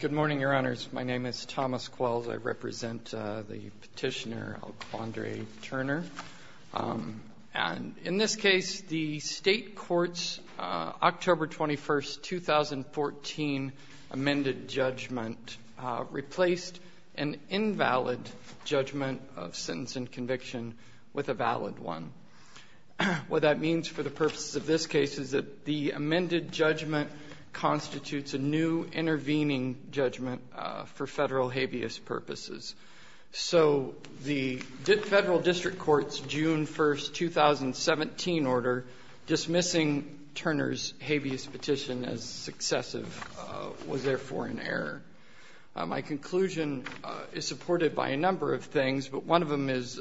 Good morning, Your Honors. My name is Thomas Quells. I represent the Petitioner Alquandre Turner. And in this case, the State Court's October 21, 2014, amended judgment replaced an invalid judgment of sentence and conviction with a valid one. What that means for the purposes of this case is that the amended judgment constitutes a new intervening judgment for Federal habeas purposes. So the Federal District Court's June 1, 2017 order dismissing Turner's habeas petition as successive was therefore in error. My conclusion is supported by a number of things, but one of them is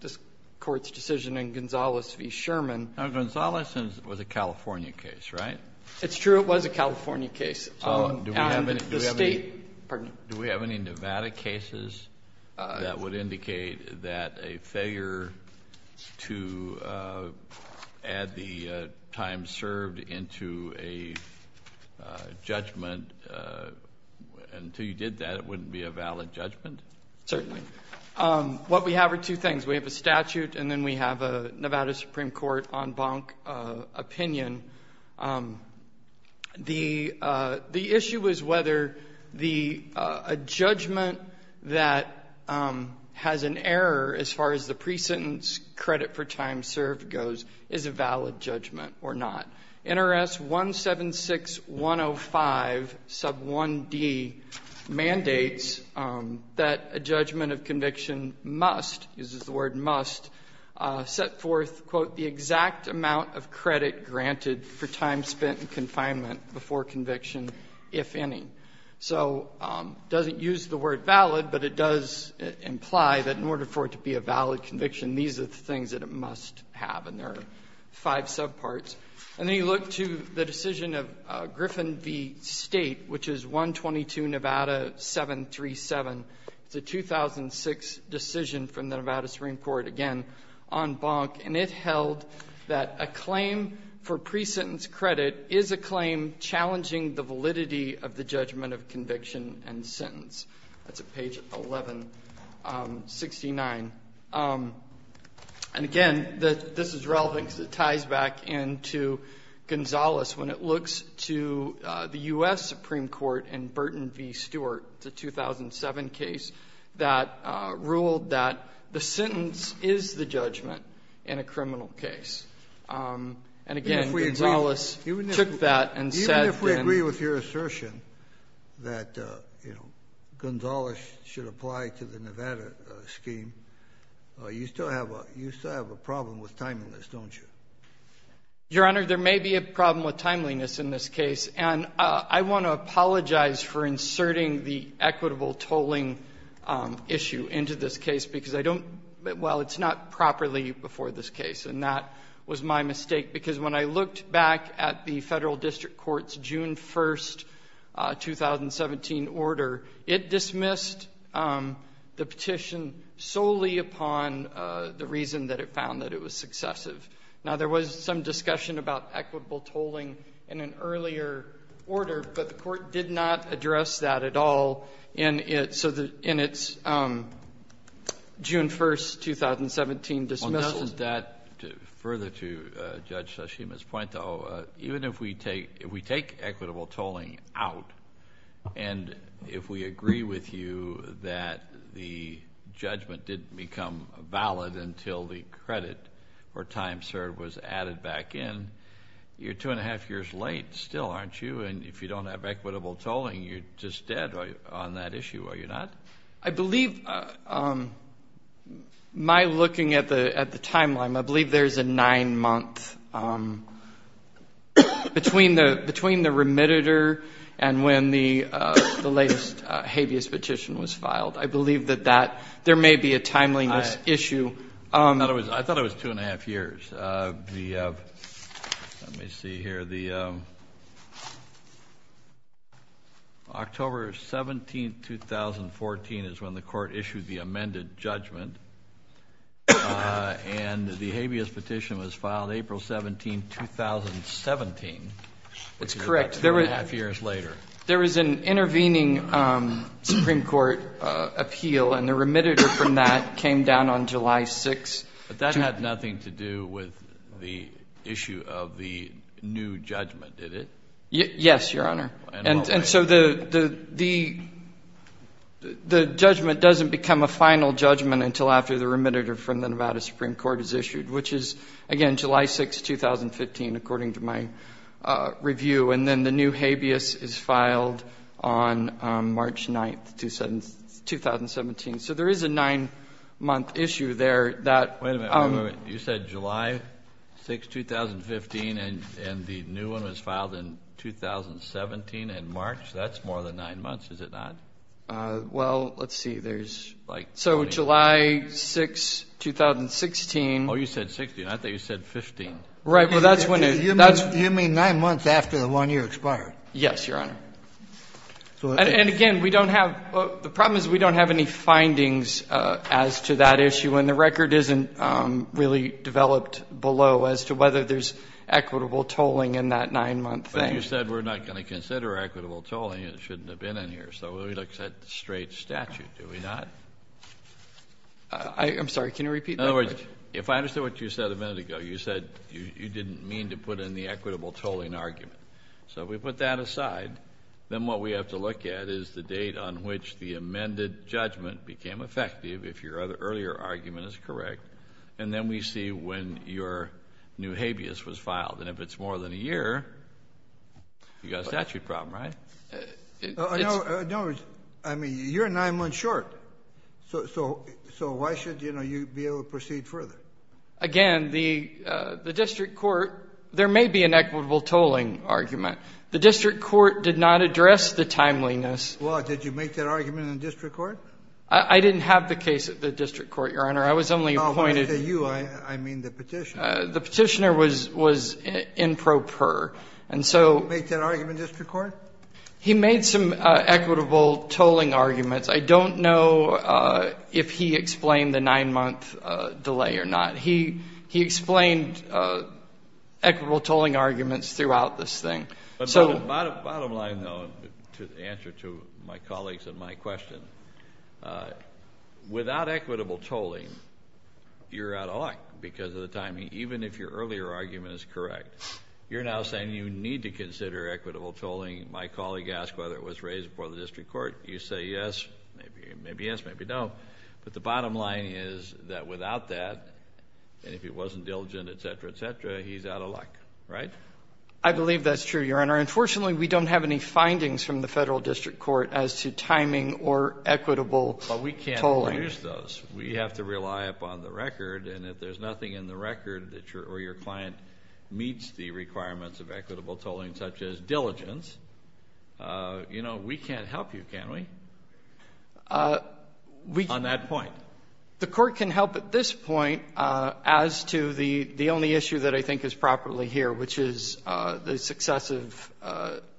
this Court's decision in Gonzales v. Sherman. Now, Gonzales was a California case, right? It's true. It was a California case. Do we have any Nevada cases that would indicate that a failure to add the time served into a judgment, until you did that, it wouldn't be a valid judgment? Certainly. What we have are two things. We have a statute and then we have a Nevada Supreme Court en banc opinion. The issue is whether a judgment that has an error as far as the pre-sentence credit for time served goes is a valid judgment or not. NRS 176105 sub 1d mandates that a judgment of conviction must, uses the word must, set forth, quote, the exact amount of credit granted for time spent in confinement before conviction, if any. So it doesn't use the word valid, but it does imply that in order for it to be a valid conviction, these are the things that it must have. And there are five subparts. And then you look to the decision of Griffin v. State, which is 122 Nevada 737. It's a 2006 decision from the Nevada Supreme Court, again, en banc. And it held that a claim for pre-sentence credit is a claim challenging the validity of the judgment of conviction and sentence. That's at page 1169. And, again, this is relevant because it ties back into Gonzales when it looks to the U.S. Supreme Court and Burton v. Stewart, the 2007 case that ruled that the sentence is the judgment in a criminal case. And, again, Gonzales took that and said that then the judgment of conviction that includes bellicose is exempt from the life expecting predication of judicial And I'm anybody who's practicedwith liability show to use judicial judgment schemes, you still have a problem with timing in this, don't you? Your Honor, there may be a problem with timeliness in this case, and I want to apologize for inserting the equitable tolling issue into this case because I don't, well, it's not properly before this case, and that was my mistake because when I looked back at the federal district court's June 1st, 2017 order, it dismissed the petition solely upon the reason that it found that it was successive. Now, there was some discussion about equitable tolling, but it did not address that at all in its June 1st, 2017 dismissal. Well, doesn't that, further to Judge Tashima's point, though, even if we take equitable tolling out and if we agree with you that the judgment didn't become valid until the credit or time served was added back in, you're two and a half years late still, aren't you? And if you don't have equitable tolling, you're just dead on that issue, are you not? I believe, my looking at the timeline, I believe there's a nine-month between the remitter and when the latest habeas petition was filed. I believe that that, there may be a timeliness issue. I thought it was two and a half years. Let me see here. The, I'm sorry. October 17th, 2014 is when the court issued the amended judgment, and the habeas petition was filed April 17th, 2017, which is about two and a half years later. There was an intervening Supreme Court appeal, and the remitter from that came down on July 6th. But that had nothing to do with the issue of the new judgment, did it? Yes, Your Honor. And so the judgment doesn't become a final judgment until after the remitter from the Nevada Supreme Court is issued, which is, again, July 6th, 2015, according to my review. And then the new habeas is filed on March 9th, 2017. So there is a nine-month issue there that has nothing to do with the issue of the new judgment. Wait a minute. Wait a minute. You said July 6th, 2015, and the new one was filed in 2017 in March? That's more than nine months, is it not? Well, let's see. There's, like, 20 years. So July 6th, 2016. Oh, you said 16. I thought you said 15. Right. Well, that's when it, that's You mean nine months after the one-year expired? Yes, Your Honor. And again, we don't have, the problem is we don't have any findings as to that issue, and the record isn't really developed below as to whether there's equitable tolling in that nine-month thing. But you said we're not going to consider equitable tolling. It shouldn't have been in here. So it looks like a straight statute, do we not? I'm sorry. Can you repeat that? In other words, if I understood what you said a minute ago, you said you didn't mean to put in the equitable tolling argument. So if we put that aside, then what we have to look at is the date on which the amended judgment became effective, if your earlier argument is correct, and then we see when your new habeas was filed. And if it's more than a year, you've got a statute problem, right? In other words, I mean, you're nine months short. So why should, you know, you be able to proceed further? Again, the district court, there may be an equitable tolling argument. The district court did not address the timeliness. Well, did you make that argument in the district court? I didn't have the case at the district court, Your Honor. I was only appointed. No, when I say you, I mean the Petitioner. The Petitioner was in pro per. And so he made some equitable tolling arguments. I don't know if he explained the nine-month delay or not. He explained equitable tolling arguments throughout this thing. Bottom line, though, to answer to my colleagues and my question, without equitable tolling, you're out of luck because of the timing, even if your earlier argument is correct. You're now saying you need to consider equitable tolling. My colleague asked whether it was raised before the district court. You say yes, maybe yes, maybe no. But the bottom line is that without that, and if it wasn't diligent, et cetera, et cetera, he's out of luck. Right? I believe that's true, Your Honor. Unfortunately, we don't have any findings from the federal district court as to timing or equitable tolling. But we can't produce those. We have to rely upon the record. And if there's nothing in the record or your client meets the requirements of equitable tolling, such as diligence, you know, we can't help you, can we, on that point? The court can help at this point as to the only issue that I think is properly here, which is the successive.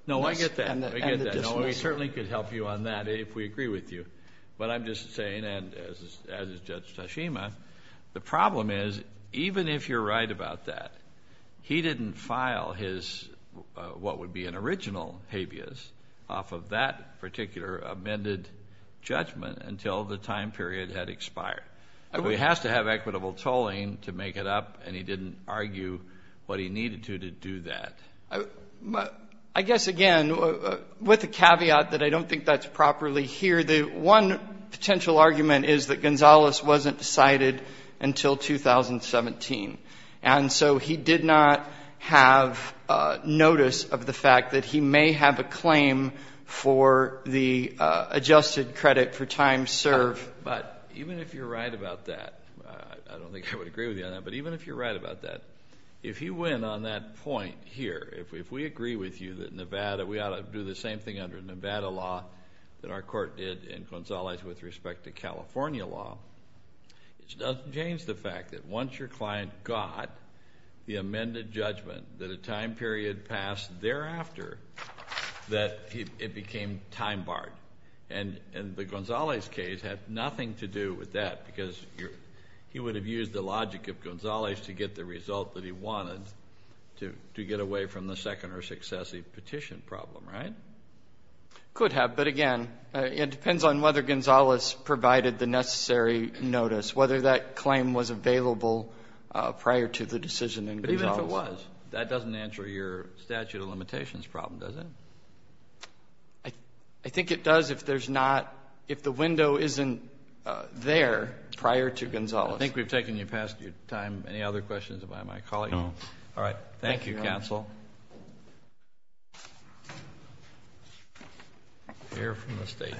No, I get that. I get that. We certainly could help you on that if we agree with you. But I'm just saying, and as is Judge Tashima, the problem is, even if you're right about that, he didn't file his what would be an original habeas off of that particular amended judgment until the time period had expired. He has to have equitable tolling to make it up, and he didn't argue what he needed to to do that. I guess, again, with a caveat that I don't think that's properly here, the one potential argument is that Gonzalez wasn't decided until 2017. And so he did not have notice of the fact that he may have a claim for the adjusted credit for time served. But even if you're right about that, I don't think I would agree with you on that, but even if you're right about that, if you win on that point here, if we agree with you that Nevada, we ought to do the same thing under Nevada law that our court did in Gonzalez with respect to California law, it doesn't change the fact that once your client got the amended judgment that a time period passed thereafter, that it became time barred. And the Gonzalez case had nothing to do with that because he would have used the logic of Gonzalez to get the result that he wanted to get away from the second or successive petition problem, right? Could have, but again, it depends on whether Gonzalez provided the necessary notice, whether that claim was available prior to the decision in Gonzalez. But even if it was, that doesn't answer your statute of limitations problem, does it? I think it does if there's not, if the window isn't there prior to Gonzalez. I think we've taken you past your time. Any other questions about my colleague? No. Thank you, counsel. Mayor from the state.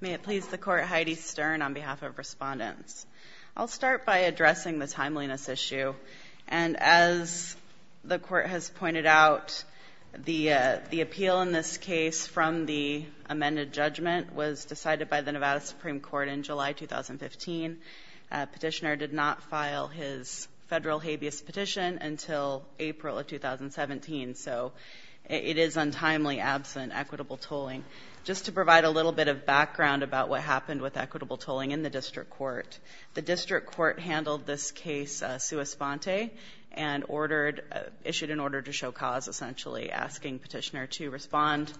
May it please the court, Heidi Stern on behalf of respondents. I'll start by addressing the timeliness issue. And as the court has pointed out, the appeal in this case from the amended judgment was decided by the Nevada Supreme Court in July 2015. Petitioner did not file his federal habeas petition until April of 2017. So it is untimely absent equitable tolling. Just to provide a little bit of background about what happened with equitable tolling in the district court, the district court handled this case sua sponte and issued an order to show cause, essentially asking petitioner to respond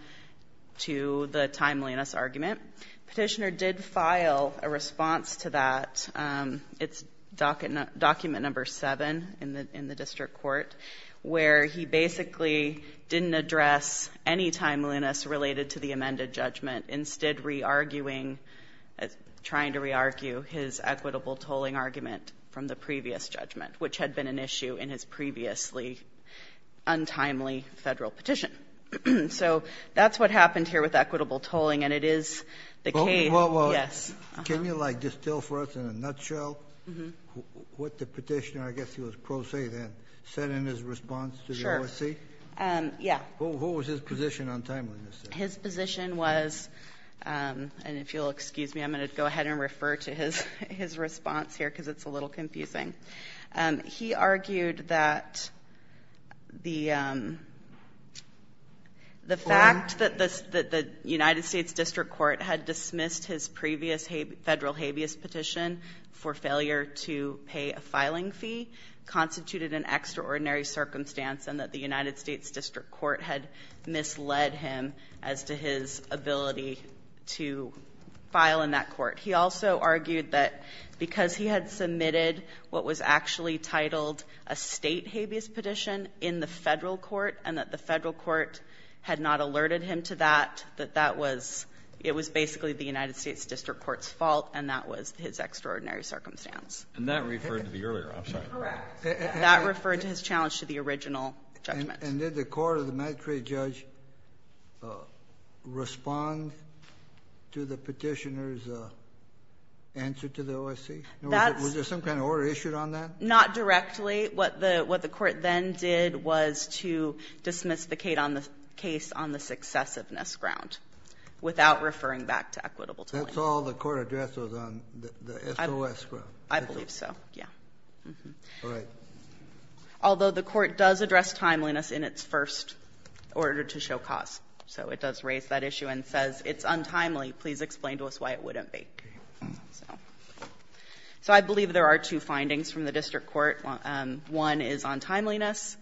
to the timeliness argument. Petitioner did file a response to that. It's document number seven in the district court, where he basically didn't address any timeliness related to the amended judgment, instead re-arguing, trying to re-argue his equitable tolling argument from the previous judgment, which had been an issue in his previously untimely federal petition. So that's what happened here with equitable tolling. And it is the case. Yes. Can you, like, distill for us in a nutshell what the petitioner, I guess he was pro se then, said in his response to the OSC? Sure. Yeah. What was his position on timeliness? His position was, and if you'll excuse me, I'm going to go ahead and refer to his response here because it's a little confusing. He argued that the fact that the United States district court had dismissed his previous federal habeas petition for failure to pay a filing fee constituted an extraordinary circumstance, and that the United States district court had misled him as to his ability to file in that court. He also argued that because he had submitted what was actually titled a state habeas petition in the federal court and that the federal court had not alerted him to that, that that was, it was basically the United States district court's fault and that was his extraordinary circumstance. And that referred to the earlier, I'm sorry. Correct. That referred to his challenge to the original judgment. And did the court or the magistrate judge respond to the petitioner's answer to the OSC? Was there some kind of order issued on that? Not directly. What the court then did was to dismiss the case on the successiveness ground without referring back to equitable timing. That's all the court addressed was on the SOS ground. I believe so, yeah. All right. Although the court does address timeliness in its first order to show cause. So it does raise that issue and says it's untimely. Please explain to us why it wouldn't be. So I believe there are two findings from the district court. One is on timeliness.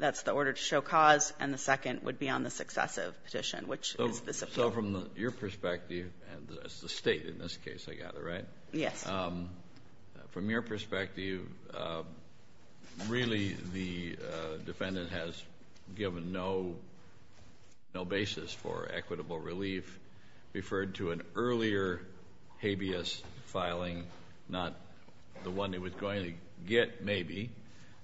That's the order to show cause. And the second would be on the successive petition, which is this appeal. So from your perspective, and it's the State in this case, I gather, right? Yes. From your perspective, really the defendant has given no basis for equitable relief. Referred to an earlier habeas filing, not the one he was going to get, maybe.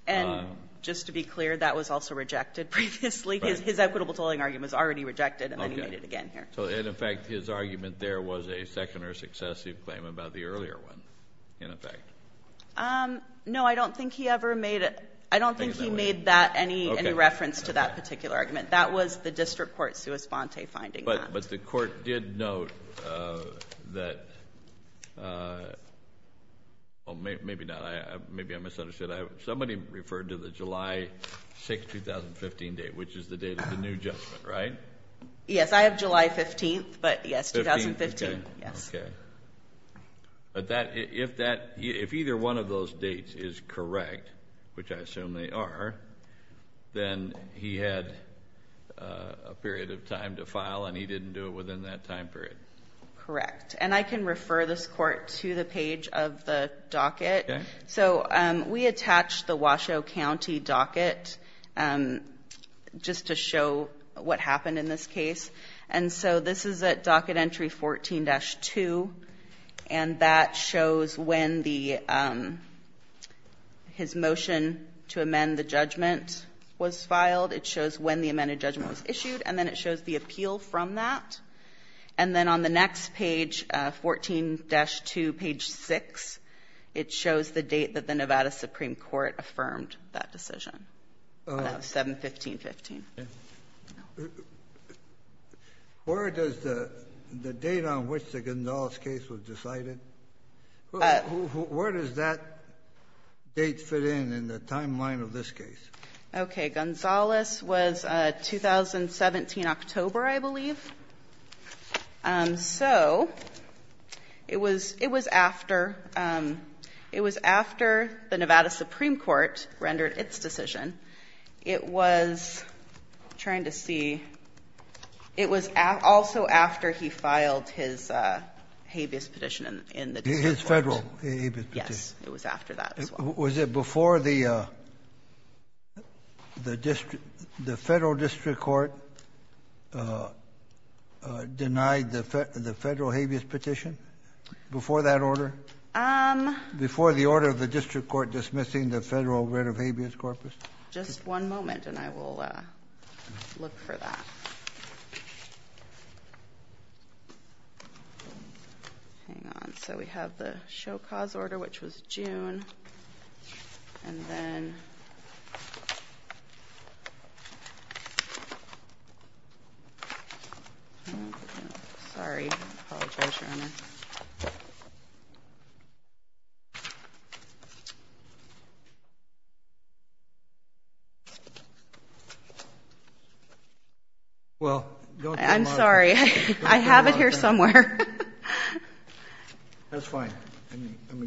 And just to be clear, that was also rejected previously. His equitable tolling argument was already rejected, and then he made it again here. And, in fact, his argument there was a second or successive claim about the earlier one, in effect. No, I don't think he ever made it. I don't think he made that any reference to that particular argument. That was the district court sui sponte finding that. But the court did note that – well, maybe not. Maybe I misunderstood. Somebody referred to the July 6, 2015 date, which is the date of the new judgment, right? Yes. I have July 15, but, yes, 2015. Okay. Yes. Okay. But if either one of those dates is correct, which I assume they are, then he had a period of time to file and he didn't do it within that time period. Correct. And I can refer this court to the page of the docket. Okay. So we attached the Washoe County docket just to show what happened in this case. And so this is at docket entry 14-2, and that shows when his motion to amend the judgment was filed. It shows when the amended judgment was issued, and then it shows the appeal from that. And then on the next page, 14-2, page 6, it shows the date that the Nevada Supreme Court affirmed that decision, on that 7-15-15. Where does the date on which the Gonzales case was decided? Where does that date fit in, in the timeline of this case? Okay. The date of the Gonzales was 2017, October, I believe. So it was after the Nevada Supreme Court rendered its decision. It was, I'm trying to see. It was also after he filed his habeas petition in the district court. His Federal habeas petition. Yes. It was after that as well. Was it before the federal district court denied the federal habeas petition? Before that order? Before the order of the district court dismissing the federal writ of habeas corpus? Just one moment, and I will look for that. Hang on. So we have the show cause order, which was June. And then, sorry. I apologize, Your Honor. I'm sorry. I have it here somewhere. That's fine.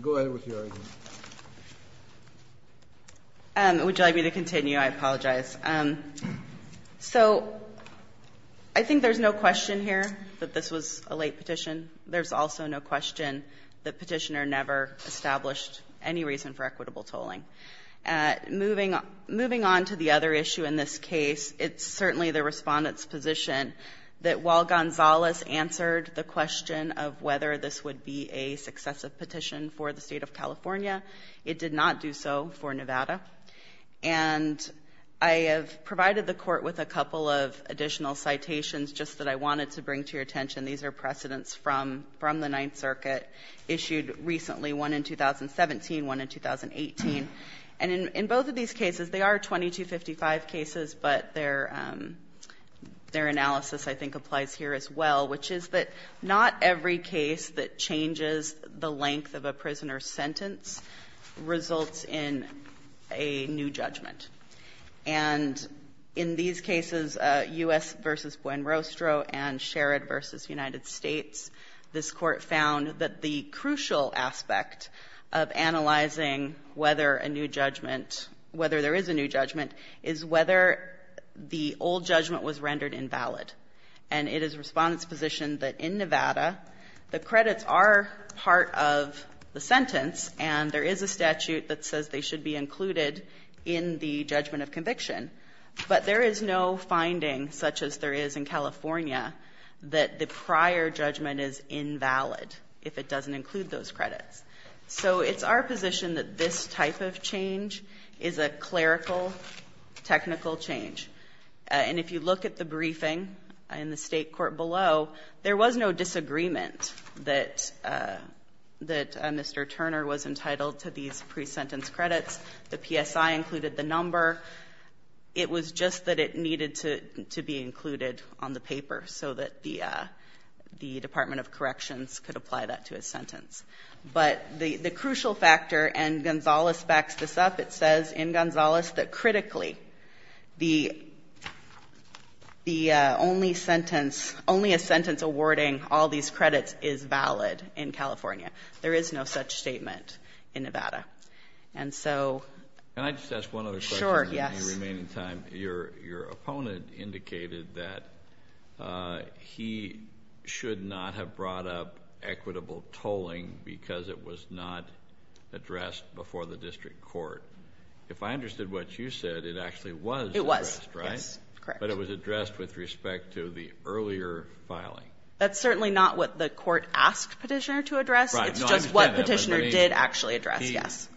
Go ahead with your argument. Would you like me to continue? I apologize. So I think there's no question here that this was a late petition. There's also no question that Petitioner never established any reason for equitable tolling. Moving on to the other issue in this case, it's certainly the Respondent's position that while Gonzalez answered the question of whether this would be a successive petition for the State of California, it did not do so for Nevada. And I have provided the Court with a couple of additional citations just that I wanted to bring to your attention. These are precedents from the Ninth Circuit, issued recently, one in 2017, one in 2018. And in both of these cases, they are 2255 cases, but their analysis, I think, applies here as well, which is that not every case that changes the length of a prisoner's sentence results in a new judgment. And in these cases, U.S. v. Buenrostro and Sherrod v. United States, this Court crucial aspect of analyzing whether a new judgment, whether there is a new judgment is whether the old judgment was rendered invalid. And it is Respondent's position that in Nevada, the credits are part of the sentence, and there is a statute that says they should be included in the judgment of conviction. But there is no finding, such as there is in California, that the prior judgment is invalid if it doesn't include those credits. So it's our position that this type of change is a clerical, technical change. And if you look at the briefing in the State Court below, there was no disagreement that Mr. Turner was entitled to these pre-sentence credits. The PSI included the number. It was just that it needed to be included on the paper so that the Department of Corrections could apply that to his sentence. But the crucial factor, and Gonzales backs this up, it says in Gonzales that critically the only sentence, only a sentence awarding all these credits is valid in California. There is no such statement in Nevada. And so ‑‑ Yes. In the remaining time, your opponent indicated that he should not have brought up equitable tolling because it was not addressed before the district court. If I understood what you said, it actually was addressed, right? It was, yes, correct. But it was addressed with respect to the earlier filing. That's certainly not what the court asked Petitioner to address. It's just what Petitioner did actually address, yes.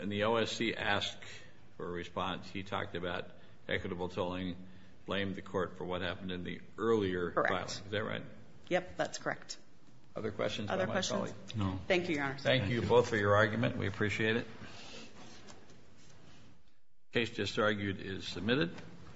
And the OSC asked for a response. He talked about equitable tolling, blamed the court for what happened in the earlier filing. Correct. Is that right? Yep, that's correct. Other questions by my colleague? Other questions? No. Thank you, Your Honor. Thank you both for your argument. We appreciate it. The case just argued is submitted.